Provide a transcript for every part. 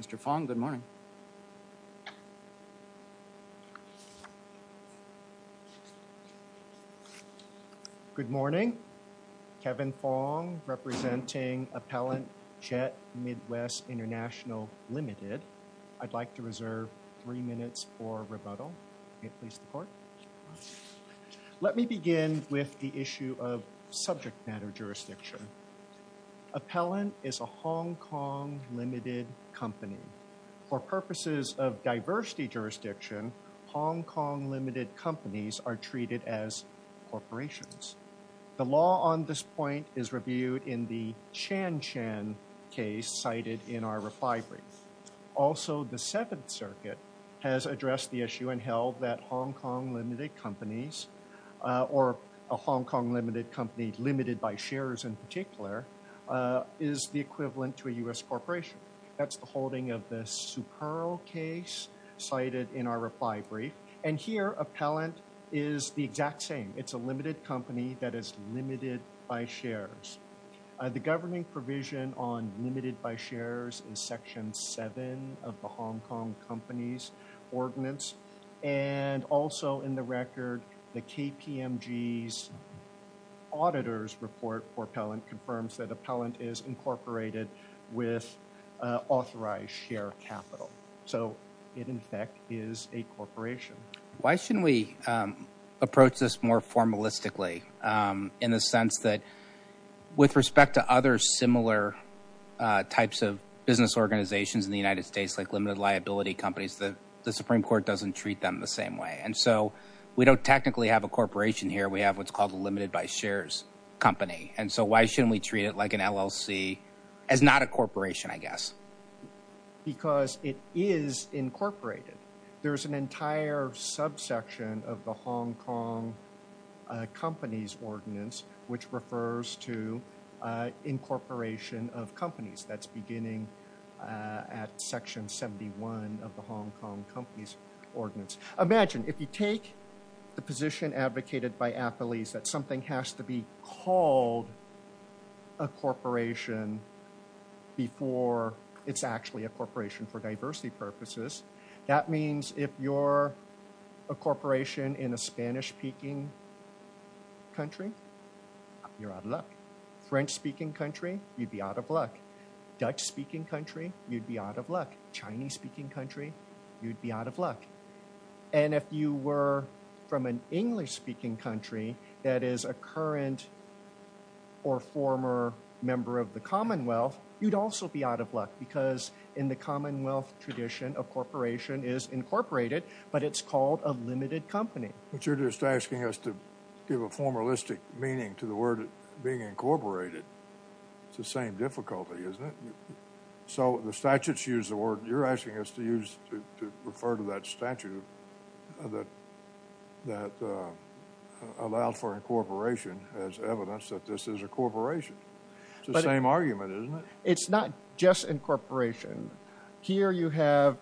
Mr. Fong, good morning. Good morning. Kevin Fong, representing Appellant Jet Midwest International Limited. I'd like to reserve three minutes for rebuttal. May it please the court. Let me begin with the issue of subject matter jurisdiction. Appellant is a Hong Kong limited company. For purposes of diversity jurisdiction, Hong Kong limited companies are treated as corporations. The law on this point is reviewed in the Chan-Chan case cited in our reply brief. Also, the Seventh Circuit has addressed the issue and held that Hong Kong limited companies, or a Hong Kong limited company limited by shares in particular, is the equivalent to a U.S. corporation. That's the holding of the Superl case cited in our reply brief. And here, Appellant is the exact same. It's a limited company that is limited by shares. The governing provision on limited by shares is section seven of the Hong Kong companies ordinance. And also in the record, the KPMG's auditors report Appellant confirms that Appellant is incorporated with authorized share capital. So it in fact is a corporation. Why shouldn't we approach this more formalistically in the sense that with respect to other similar types of business organizations in the United States like limited liability companies, the Supreme Court doesn't treat them the same way. And so we don't technically have a corporation here. We have what's called a limited by shares company. And so why shouldn't we treat it like an LLC as not a corporation, I guess? Because it is incorporated. There's an entire subsection of the Hong Kong companies ordinance which refers to incorporation of companies that's beginning at section 71 of the Hong Kong companies ordinance. Imagine if you take the position advocated by Appellate that something has to be called a corporation before it's actually a corporation for diversity purposes. That means if you're a corporation in a Spanish-speaking country, you're out of luck. French-speaking country, you'd be out of luck. Dutch-speaking country, you'd be out of luck. Chinese-speaking country, you'd be out of luck. And if you were from an English-speaking country that is a current or former member of the Commonwealth, you'd also be out of luck because in the Commonwealth tradition, a corporation is incorporated, but it's called a limited company. But you're just asking us to give a formalistic meaning to the word being incorporated. So the statutes use the word, you're asking us to use to refer to that statute that allows for incorporation as evidence that this is a corporation. It's the same argument, isn't it? It's not just incorporation. Here you have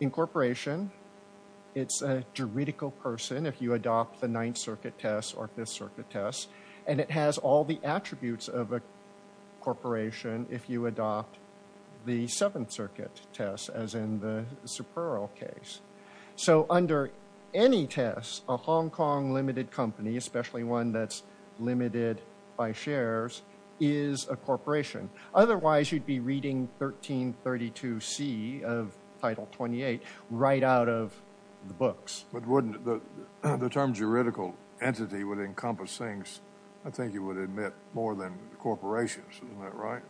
incorporation. It's a juridical person if you adopt the Ninth Circuit Test or Fifth Circuit Test, and it has all the attributes of a corporation if you adopt the Seventh Circuit Test as in the Superl case. So under any test, a Hong Kong limited company, especially one that's limited by shares, is a corporation. Otherwise, you'd be reading 1332C of Title 28 right out of the books. But wouldn't the term juridical entity would encompass things, I think you would admit, more than corporations, isn't that right?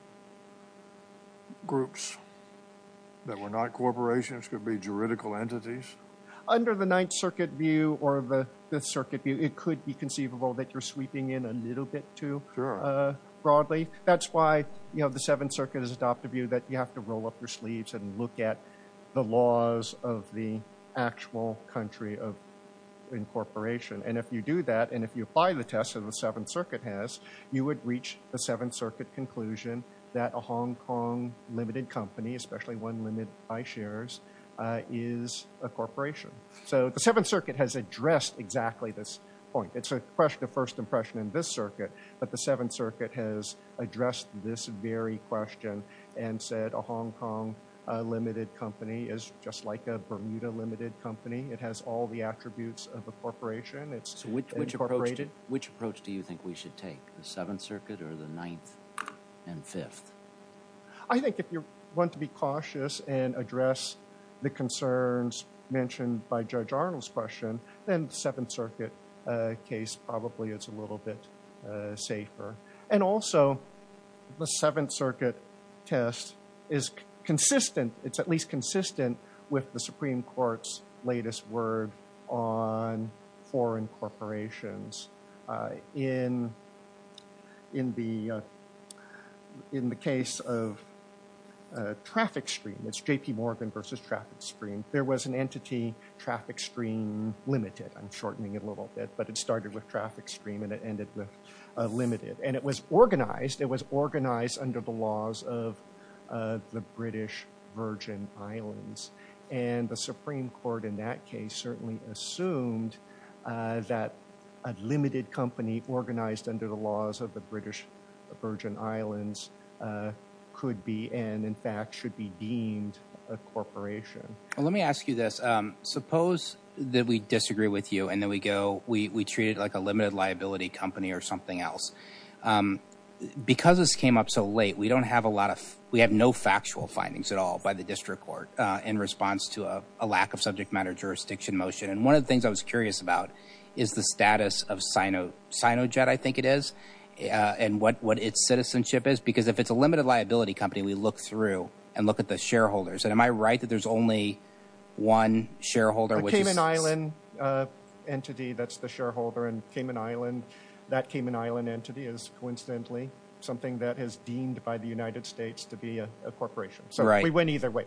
Groups that were not corporations could be juridical entities. Under the Ninth Circuit view or the Fifth Circuit view, it could be conceivable that you're sweeping in a little bit too broadly. That's why the Seventh Circuit has adopted a view that you have to roll up your sleeves and look at the laws of the actual country of incorporation. And if you do that, and if you apply the test that the Seventh Circuit has, you would reach the Seventh Circuit conclusion that a Hong Kong limited company, especially one limited by shares, is a corporation. So the Seventh Circuit has addressed exactly this point. It's a question of first impression in this circuit, but the Seventh Circuit has addressed this very question and said a Hong Kong limited company is just like a Bermuda limited company. It has all the attributes of a corporation. It's incorporated. Which approach do you think we should take? The Seventh Circuit or the Ninth and Fifth? I think if you want to be cautious and address the concerns mentioned by Judge Arnold's question, then the Seventh Circuit case probably is a little bit safer. And also, the Seventh Circuit test is consistent. It's at least consistent with the Supreme Court's latest word on foreign corporations. In the case of Traffic Stream, it's J.P. Morgan versus Traffic Stream, there was an entity, Traffic Stream Limited. I'm shortening it a little bit, but it started with Traffic Stream and it ended with Limited. And it was organized. It was organized under the laws of the British Virgin Islands. And the Supreme Court in that case certainly assumed that a limited company organized under the laws of the British Virgin Islands could be, and in fact, should be deemed a corporation. Well, let me ask you this. Suppose that we disagree with you and then we go, we treat it like a limited liability company or something else. Because this came up so late, we don't have a lot of, we have no factual findings at all by the district court. In response to a lack of subject matter jurisdiction motion. And one of the things I was curious about is the status of Sinojet, I think it is, and what its citizenship is. Because if it's a limited liability company, we look through and look at the shareholders. And am I right that there's only one shareholder? Which is- A Cayman Island entity that's the shareholder and Cayman Island, that Cayman Island entity is coincidentally something that is deemed by the United States to be a corporation. So we went either way.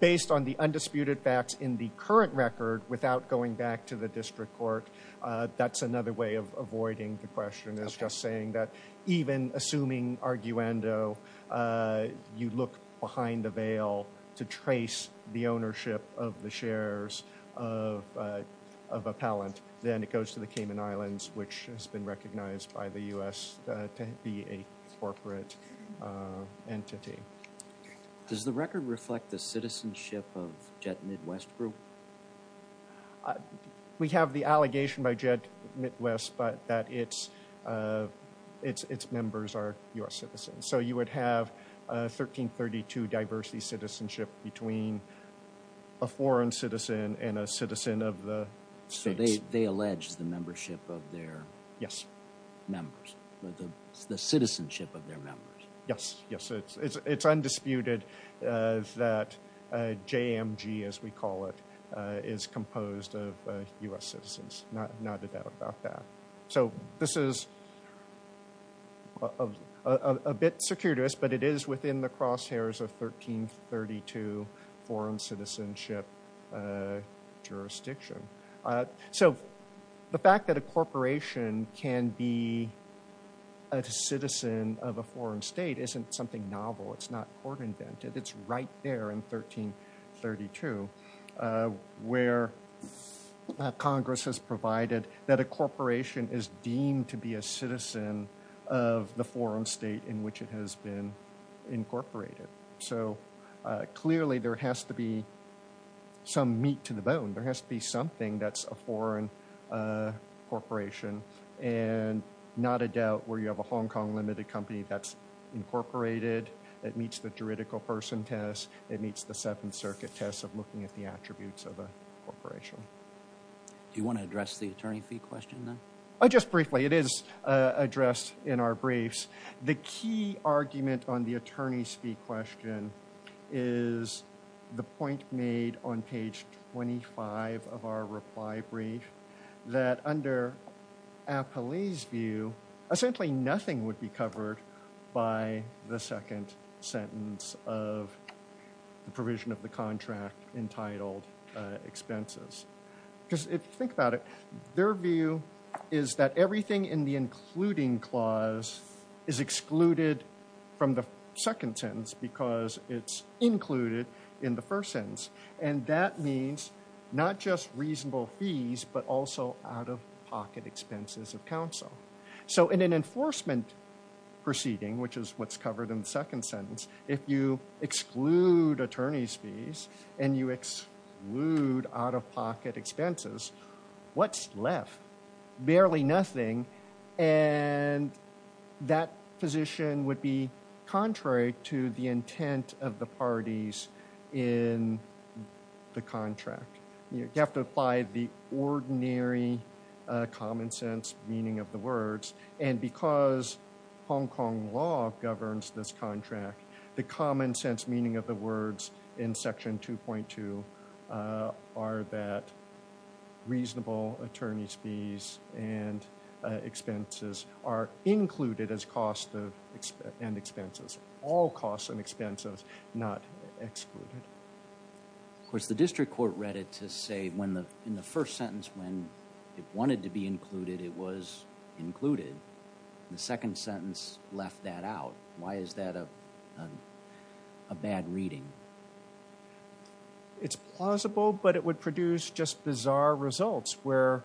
Based on the undisputed facts in the current record without going back to the district court, that's another way of avoiding the question is just saying that even assuming arguendo, you look behind the veil to trace the ownership of the shares of a palant. Then it goes to the Cayman Islands, which has been recognized by the US to be a corporate entity. Does the record reflect the citizenship of Jet Midwest Group? We have the allegation by Jet Midwest, but that it's members are US citizens. So you would have a 1332 diversity citizenship between a foreign citizen and a citizen of the states. They allege the membership of their members, the citizenship of their members. Yes, yes, it's undisputed that JMG, as we call it, is composed of US citizens. Not a doubt about that. So this is a bit circuitous, but it is within the crosshairs of 1332 foreign citizenship jurisdiction. So the fact that a corporation can be a citizen of a foreign state isn't something novel. It's not court invented. It's right there in 1332, where Congress has provided that a corporation is deemed to be a citizen of the foreign state in which it has been incorporated. So clearly there has to be some meat to the bone. There has to be something that's a foreign corporation. And not a doubt where you have a Hong Kong limited company that's incorporated, that meets the juridical person test, that meets the Seventh Circuit test of looking at the attributes of a corporation. Do you wanna address the attorney fee question then? Oh, just briefly. It is addressed in our briefs. The key argument on the attorney's fee question is the point made on page 25 of our reply brief that under Apolli's view, essentially nothing would be covered by the second sentence of the provision of the contract entitled expenses. Because if you think about it, their view is that everything in the including clause is excluded from the second sentence because it's included in the first sentence. And that means not just reasonable fees, but also out-of-pocket expenses of counsel. So in an enforcement proceeding, which is what's covered in the second sentence, if you exclude attorney's fees and you exclude out-of-pocket expenses, what's left? Barely nothing. And that position would be contrary to the intent of the parties in the contract. You have to apply the ordinary common sense meaning of the words. And because Hong Kong law governs this contract, the common sense meaning of the words in section 2.2 are that reasonable attorney's fees and expenses are included as cost and expenses. All costs and expenses not excluded. Of course, the district court read it to say when in the first sentence, when it wanted to be included, it was included. The second sentence left that out. Why is that a bad reading? It's plausible, but it would produce just bizarre results where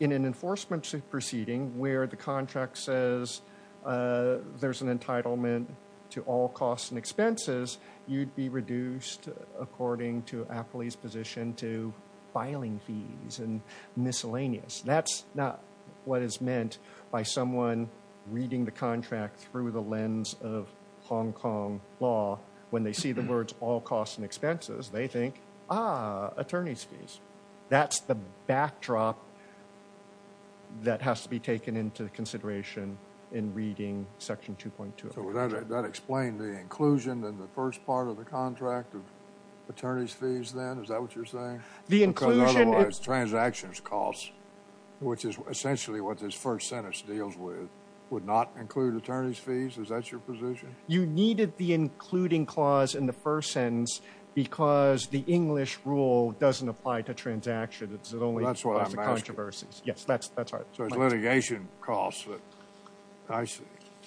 in an enforcement proceeding where the contract says there's an entitlement to all costs and expenses, you'd be reduced according to Apley's position to filing fees and miscellaneous. That's not what is meant by someone reading the contract through the lens of Hong Kong law. When they see the words all costs and expenses, they think, ah, attorney's fees. That's the backdrop that has to be taken into consideration in reading section 2.2 of the contract. That explained the inclusion in the first part of the contract of attorney's fees then, is that what you're saying? The inclusion is- Because otherwise, transactions costs, which is essentially what this first sentence deals with, would not include attorney's fees. Is that your position? You needed the including clause in the first sentence because the English rule doesn't apply to transactions. It only applies to controversies. Yes, that's right. So it's litigation costs.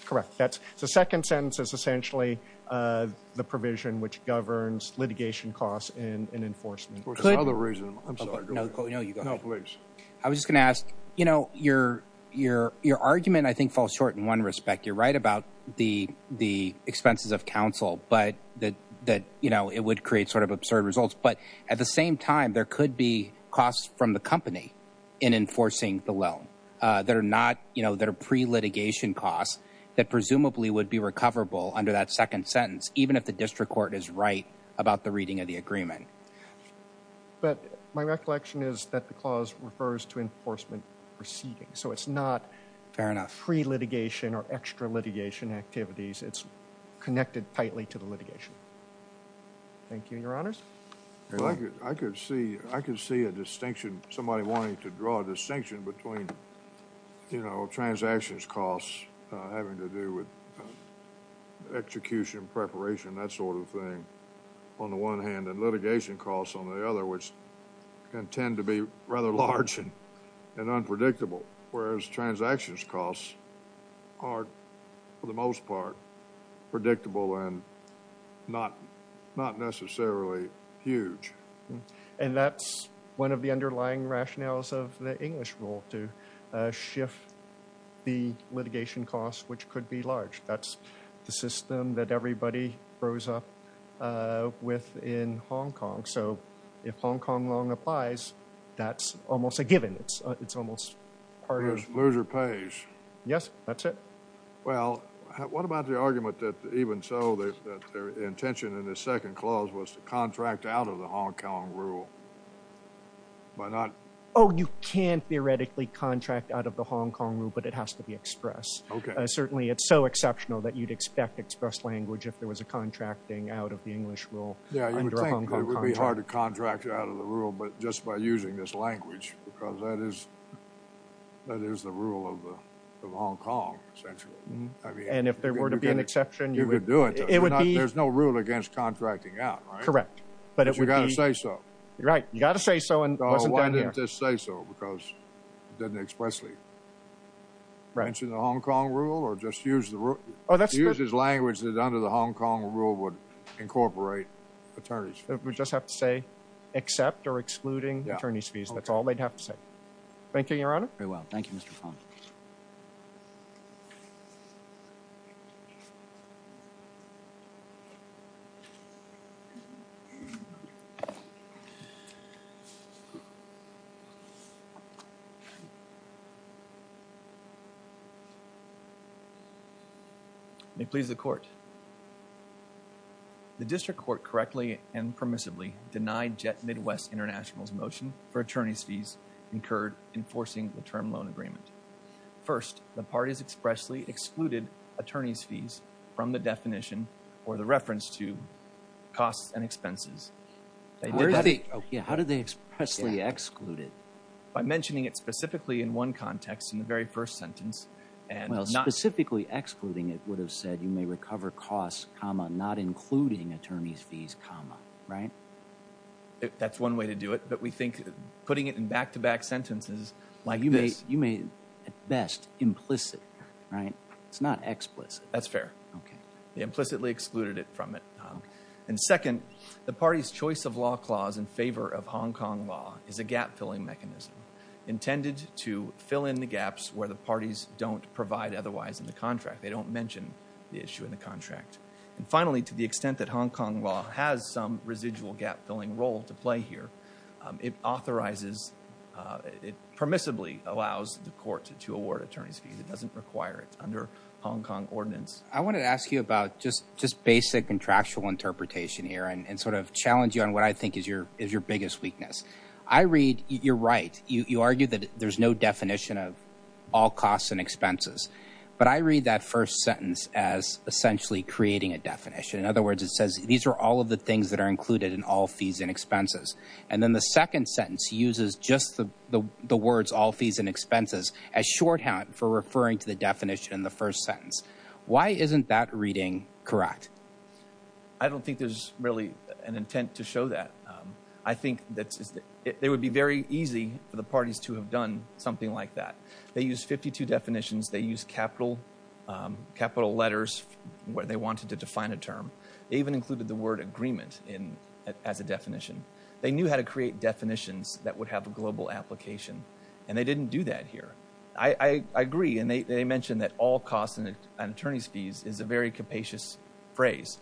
Correct. The second sentence is essentially the provision which governs litigation costs in enforcement. Could- There's another reason. I'm sorry, go ahead. No, you go ahead. No, please. I was just gonna ask, your argument I think falls short in one respect. You're right about the expenses of counsel, but that it would create sort of absurd results. But at the same time, there could be costs from the company in enforcing the loan that are pre-litigation costs that presumably would be recoverable under that second sentence, even if the district court is right about the reading of the agreement. But my recollection is that the clause refers to enforcement proceedings. So it's not- Fair enough. Free litigation or extra litigation activities. It's connected tightly to the litigation. Thank you, your honors. I could see a distinction, somebody wanting to draw a distinction between transactions costs having to do with execution, preparation, that sort of thing on the one hand, and litigation costs on the other, which can tend to be rather large and unpredictable. Whereas transactions costs are, for the most part, predictable and not necessarily huge. And that's one of the underlying rationales of the English rule to shift the litigation costs, which could be large. That's the system that everybody grows up with in Hong Kong. So if Hong Kong long applies, that's almost a given. It's almost part of- Loser pays. Yes, that's it. Well, what about the argument that even so, that their intention in the second clause was to contract out of the Hong Kong rule? By not- Oh, you can't theoretically contract out of the Hong Kong rule, but it has to be express. Certainly, it's so exceptional that you'd expect express language if there was a contracting out of the English rule under a Hong Kong contract. Yeah, you would think it would be hard to contract out of the rule, but just by using this language, because that is the rule of Hong Kong, essentially. And if there were to be an exception- You could do it. It would be- There's no rule against contracting out, right? Correct. But it would be- But you gotta say so. Right, you gotta say so, and it wasn't done here. So why didn't this say so? Because it didn't expressly mention the Hong Kong rule or just use this language that under the Hong Kong rule would incorporate attorney's fees. We just have to say, accept or excluding attorney's fees. That's all they'd have to say. Thank you, Your Honor. Very well, thank you, Mr. Pond. May it please the court. The district court correctly and permissibly denied Jet Midwest International's motion for attorney's fees incurred enforcing the term loan agreement. First, the parties expressly excluded attorney's fees from the definition or the reference to costs and expenses. How did they expressly exclude it? By mentioning it specifically in one context in the very first sentence and- Well, specifically excluding it would have said you may recover costs, comma, not including attorney's fees, comma, right? That's one way to do it, but we think putting it in back-to-back sentences like this- You may, at best, implicit, right? It's not explicit. That's fair. They implicitly excluded it from it. And second, the party's choice of law clause in favor of Hong Kong law is a gap-filling mechanism intended to fill in the gaps where the parties don't provide otherwise in the contract. They don't mention the issue in the contract. And finally, to the extent that Hong Kong law has some residual gap-filling role to play here, it authorizes- It permissibly allows the court to award attorney's fees. It doesn't require it under Hong Kong ordinance. I want to ask you about just basic contractual interpretation here and sort of challenge you on what I think is your biggest weakness. I read- You're right. You argued that there's no definition of all costs and expenses, but I read that first sentence as essentially creating a definition. In other words, it says, these are all of the things that are included in all fees and expenses. And then the second sentence uses just the words all fees and expenses as shorthand for referring to the definition in the first sentence. Why isn't that reading correct? I don't think there's really an intent to show that. I think that it would be very easy for the parties to have done something like that. They use 52 definitions. They use capital letters where they wanted to define a term. They even included the word agreement as a definition. They knew how to create definitions that would have a global application. And they didn't do that here. I agree. And they mentioned that all costs and attorney's fees is a very capacious phrase.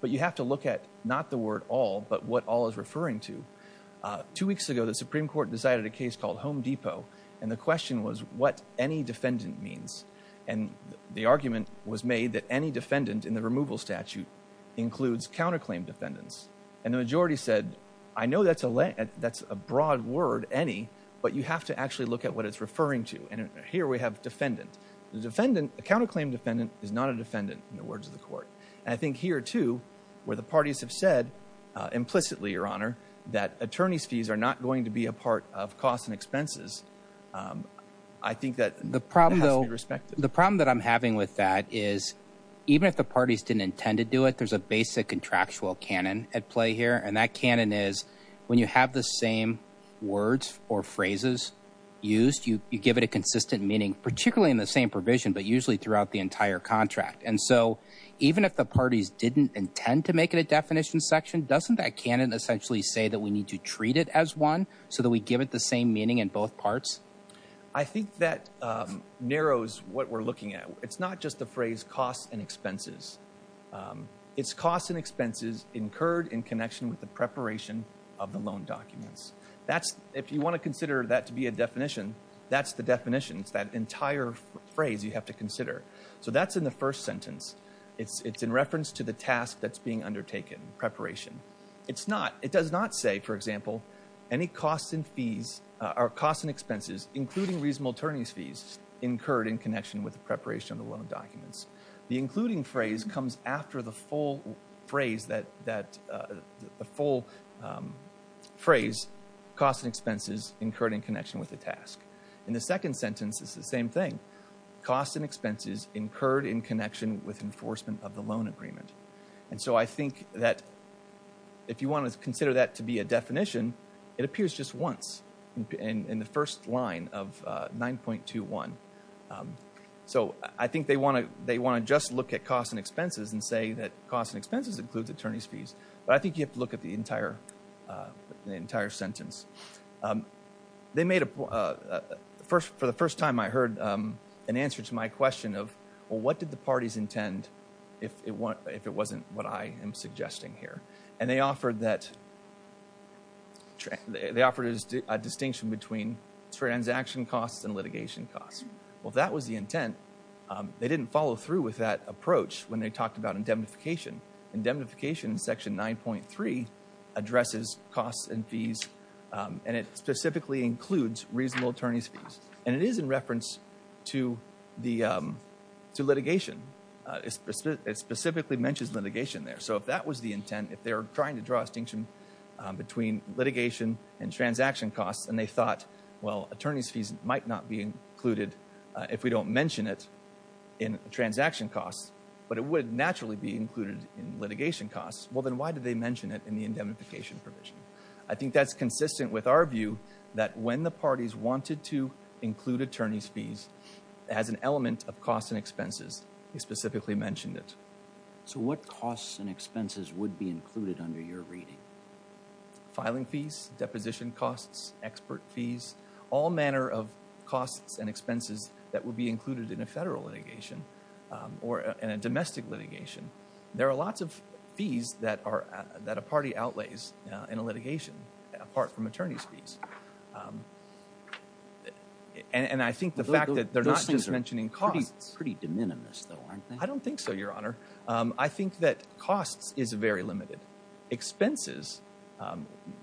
But you have to look at not the word all, but what all is referring to. Two weeks ago, the Supreme Court decided a case called Home Depot. And the question was what any defendant means. And the argument was made that any defendant in the removal statute includes counterclaim defendants. And the majority said, I know that's a broad word, any, but you have to actually look at what it's referring to. And here we have defendant. The defendant, a counterclaim defendant is not a defendant in the words of the court. And I think here too, where the parties have said implicitly, Your Honor, that attorney's fees are not going to be a part of costs and expenses, I think that has to be respected. The problem that I'm having with that is even if the parties didn't intend to do it, there's a basic contractual canon at play here. And that canon is when you have the same words or phrases used, you give it a consistent meaning, particularly in the same provision, but usually throughout the entire contract. And so even if the parties didn't intend to make it a definition section, doesn't that canon essentially say that we need to treat it as one so that we give it the same meaning in both parts? I think that narrows what we're looking at. It's not just the phrase costs and expenses. It's costs and expenses incurred in connection with the preparation of the loan documents. If you want to consider that to be a definition, that's the definition. It's that entire phrase you have to consider. So that's in the first sentence. It's in reference to the task that's being undertaken, preparation. It's not, it does not say, for example, any costs and fees, or costs and expenses, including reasonable attorney's fees, incurred in connection with the preparation of the loan documents. The including phrase comes after the full phrase that, the full phrase, costs and expenses incurred in connection with the task. In the second sentence, it's the same thing. Costs and expenses incurred in connection with enforcement of the loan agreement. And so I think that if you want to consider that to be a definition, it appears just once in the first line of 9.21. So I think they want to just look at costs and expenses and say that costs and expenses includes attorney's fees. But I think you have to look at the entire sentence. They made a, for the first time I heard an answer to my question of, well, what did the parties intend if it wasn't what I am suggesting here? And they offered that, they offered a distinction between transaction costs and litigation costs. Well, if that was the intent, they didn't follow through with that approach when they talked about indemnification. Indemnification in section 9.3 addresses costs and fees, and it specifically includes reasonable attorney's fees. And it is in reference to litigation. It specifically mentions litigation there. So if that was the intent, if they're trying to draw a distinction between litigation and transaction costs, and they thought, well, attorney's fees might not be included if we don't mention it in transaction costs, but it would naturally be included in litigation costs. Well, then why did they mention it in the indemnification provision? I think that's consistent with our view that when the parties wanted to include attorney's fees as an element of costs and expenses, they specifically mentioned it. So what costs and expenses would be included under your reading? Filing fees, deposition costs, expert fees, all manner of costs and expenses that would be included in a federal litigation or in a domestic litigation. There are lots of fees that a party outlays in a litigation apart from attorney's fees. And I think the fact that they're not just mentioning costs. Pretty de minimis though, aren't they? I don't think so, Your Honor. I think that costs is very limited. Expenses,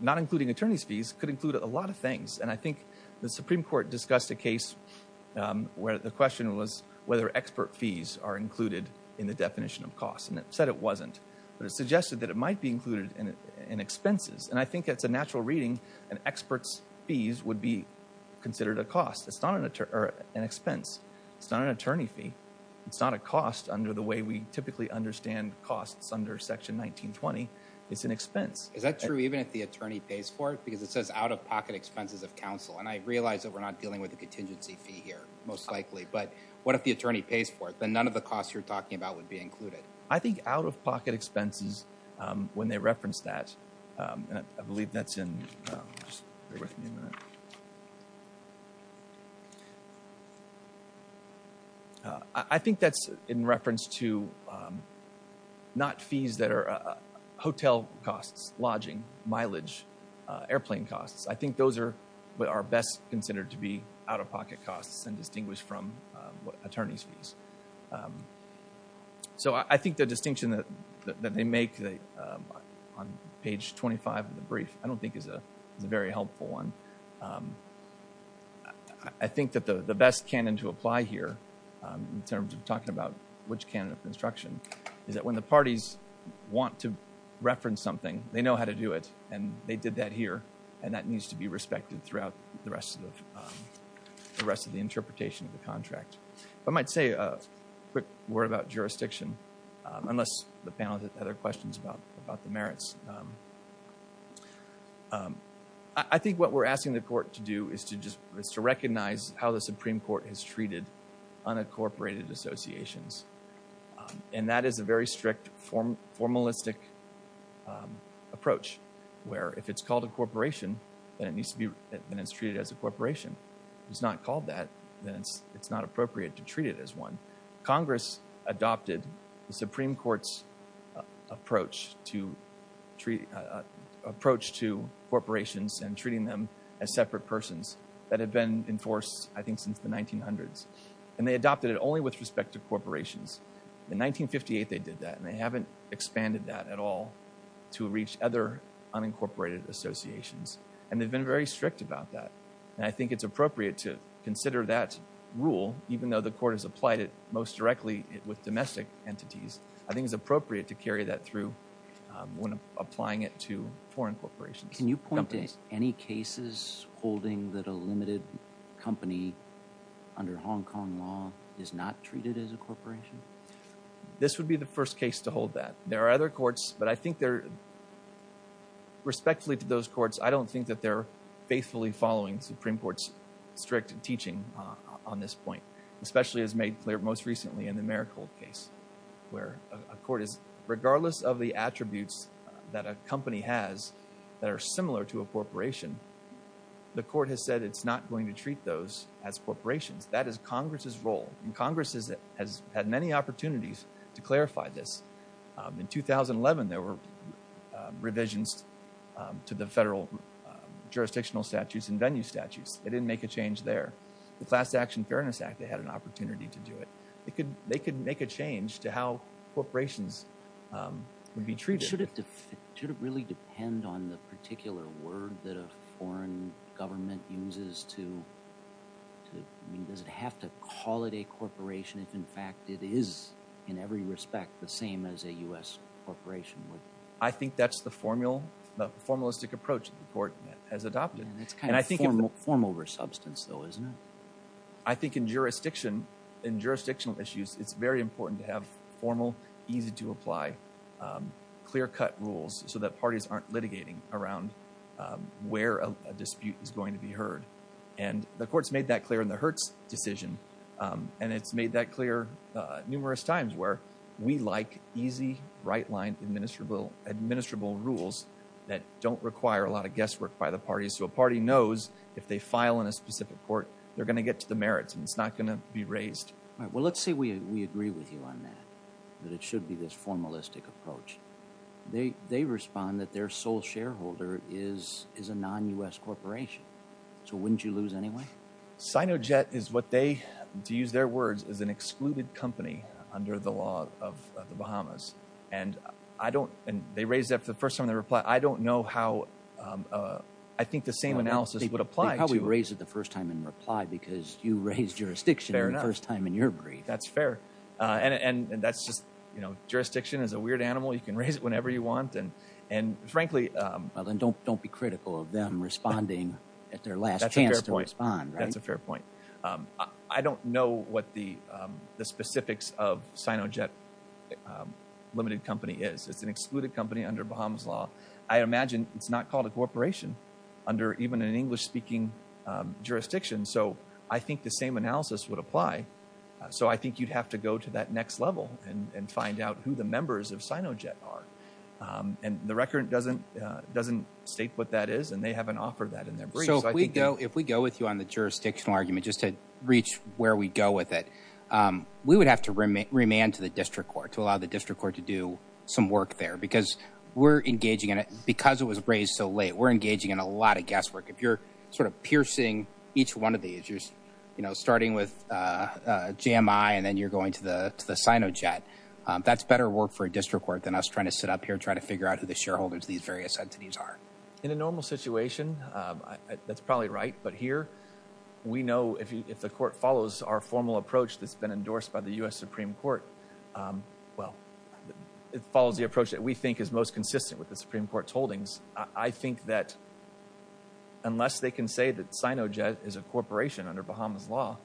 not including attorney's fees, could include a lot of things. And I think the Supreme Court discussed a case where the question was whether expert fees are included in the definition of costs, and it said it wasn't, but it suggested that it might be included in expenses. And I think that's a natural reading, and expert's fees would be considered a cost. It's not an expense. It's not an attorney fee. It's not a cost under the way we typically understand costs under Section 1920. It's an expense. Is that true even if the attorney pays for it? Because it says out-of-pocket expenses of counsel. And I realize that we're not dealing with a contingency fee here, most likely. But what if the attorney pays for it? Then none of the costs you're talking about would be included. I think out-of-pocket expenses, when they reference that, and I believe that's in, just bear with me a minute. I think that's in reference to not fees that are hotel costs, lodging, mileage, airplane costs. I think those are what are best considered to be out-of-pocket costs and distinguished from attorney's fees. So I think the distinction that they make on page 25 of the brief I don't think is a very helpful one. I think that the best canon to apply here, in terms of talking about which canon of construction, is that when the parties want to reference something, they know how to do it, and they did that here, and that needs to be respected throughout the rest of the interpretation of the contract. I might say a quick word about jurisdiction, unless the panel has other questions about the merits. I think what we're asking the court to do is to recognize how the Supreme Court has treated unincorporated associations, and that is a very strict formalistic approach, where if it's called a corporation, then it's treated as a corporation. If it's not called that, then it's not appropriate to treat it as one. Congress adopted the Supreme Court's approach to corporations and treating them as separate persons, that had been enforced, I think, since the 1900s, and they adopted it only with respect to corporations. In 1958, they did that, and they haven't expanded that at all to reach other unincorporated associations, and they've been very strict about that, and I think it's appropriate to consider that rule, even though the court has applied it most directly with domestic entities, I think it's appropriate to carry that through when applying it to foreign corporations. Can you point to any cases holding that a limited company under Hong Kong law is not treated as a corporation? This would be the first case to hold that. There are other courts, but I think they're, respectfully to those courts, I don't think that they're faithfully following Supreme Court's strict teaching on this point, especially as made clear most recently where a court is, regardless of the attributes that a company has that are similar to a corporation, the court has said it's not going to treat those as corporations. That is Congress's role, and Congress has had many opportunities to clarify this. In 2011, there were revisions to the federal jurisdictional statutes and venue statutes. They didn't make a change there. The Class Action Fairness Act, they had an opportunity to do it. They could make a change to how corporations would be treated. Should it really depend on the particular word that a foreign government uses to, does it have to call it a corporation if in fact it is, in every respect, the same as a U.S. corporation would? I think that's the formalistic approach the court has adopted. It's kind of form over substance, though, isn't it? I think in jurisdiction, in jurisdictional issues, it's very important to have formal, easy-to-apply, clear-cut rules so that parties aren't litigating around where a dispute is going to be heard. And the court's made that clear in the Hertz decision, and it's made that clear numerous times where we like easy, right-line, administrable rules that don't require a lot of guesswork by the parties so a party knows if they file in a specific court, they're gonna get to the merits and it's not gonna be raised. All right, well, let's say we agree with you on that, that it should be this formalistic approach. They respond that their sole shareholder is a non-U.S. corporation. So wouldn't you lose anyway? Sinojet is what they, to use their words, is an excluded company under the law of the Bahamas. And they raised that for the first time in their reply. I don't know how, I think the same analysis would apply to- They probably raised it the first time in reply because you raised jurisdiction the first time in your brief. That's fair. And that's just, jurisdiction is a weird animal. You can raise it whenever you want. And frankly- Well, then don't be critical of them responding at their last chance to respond, right? That's a fair point. I don't know what the specifics of Sinojet Limited Company is. It's an excluded company under Bahamas law. I imagine it's not called a corporation under even an English-speaking jurisdiction. So I think the same analysis would apply. So I think you'd have to go to that next level and find out who the members of Sinojet are. And the record doesn't state what that is, and they haven't offered that in their brief. If we go with you on the jurisdictional argument, just to reach where we go with it, we would have to remand to the district court to allow the district court to do some work there because we're engaging in it, because it was raised so late, we're engaging in a lot of guesswork. If you're sort of piercing each one of these, you're starting with JMI, and then you're going to the Sinojet, that's better work for a district court than us trying to sit up here, trying to figure out who the shareholders of these various entities are. In a normal situation, that's probably right. But here, we know if the court follows our formal approach that's been endorsed by the U.S. Supreme Court, well, it follows the approach that we think is most consistent with the Supreme Court's holdings. I think that unless they can say that Sinojet is a corporation under Bahamas law,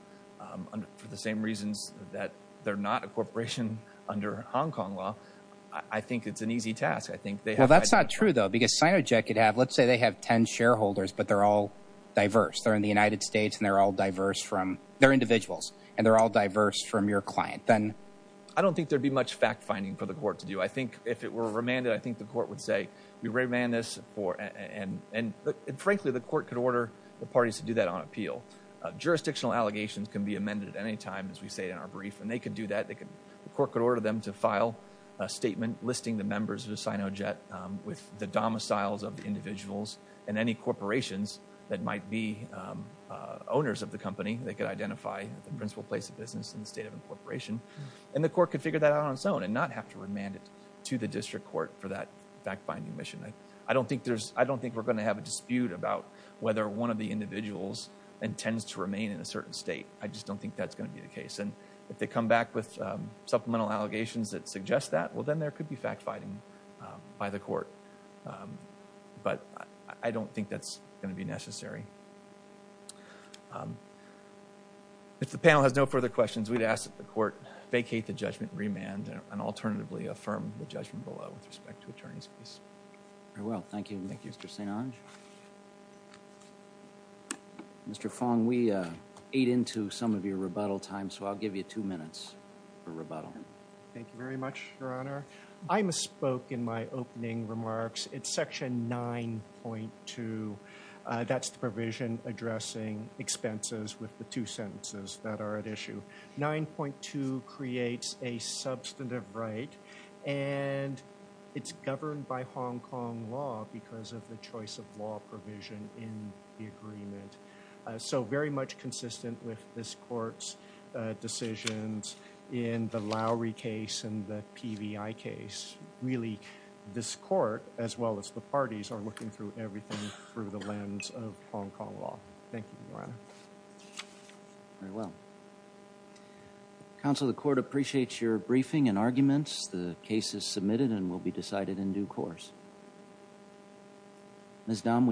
for the same reasons that they're not a corporation under Hong Kong law, I think it's an easy task. I think they have- Well, that's not true, though, because Sinojet could have, let's say they have 10 shareholders, but they're all diverse. They're in the United States, and they're all diverse from, they're individuals, and they're all diverse from your client. Then- I don't think there'd be much fact-finding for the court to do. I think if it were remanded, I think the court would say, we remand this for, and frankly, the court could order the parties to do that on appeal. Jurisdictional allegations can be amended at any time, as we say in our brief, and they could do that. The court could order them to file a statement listing the members of Sinojet with the domiciles of the individuals and any corporations that might be owners of the company. They could identify the principal place of business in the state of incorporation, and the court could figure that out on its own and not have to remand it to the district court for that fact-finding mission. I don't think there's, I don't think we're gonna have a dispute about whether one of the individuals intends to remain in a certain state. I just don't think that's gonna be the case, and if they come back with supplemental allegations that suggest that, well, then there could be fact-finding by the court, but I don't think that's gonna be necessary. If the panel has no further questions, we'd ask that the court vacate the judgment remand and alternatively affirm the judgment below with respect to attorney's fees. Very well, thank you, Mr. St. Onge. Mr. Fong, we ate into some of your rebuttal time, so I'll give you two minutes for rebuttal. Thank you very much, Your Honor. I misspoke in my opening remarks. It's section 9.2. That's the provision addressing expenses with the two sentences that are at issue. 9.2 creates a substantive right, and it's governed by Hong Kong law because of the choice of law provision in the agreement, so very much consistent with this court's decisions in the Lowry case and the PBI case. Really, this court, as well as the parties, are looking through everything through the lens of Hong Kong law. Thank you, Your Honor. Very well. Counsel, the court appreciates your briefing and arguments. The case is submitted and will be decided in due course. Ms. Dam, we.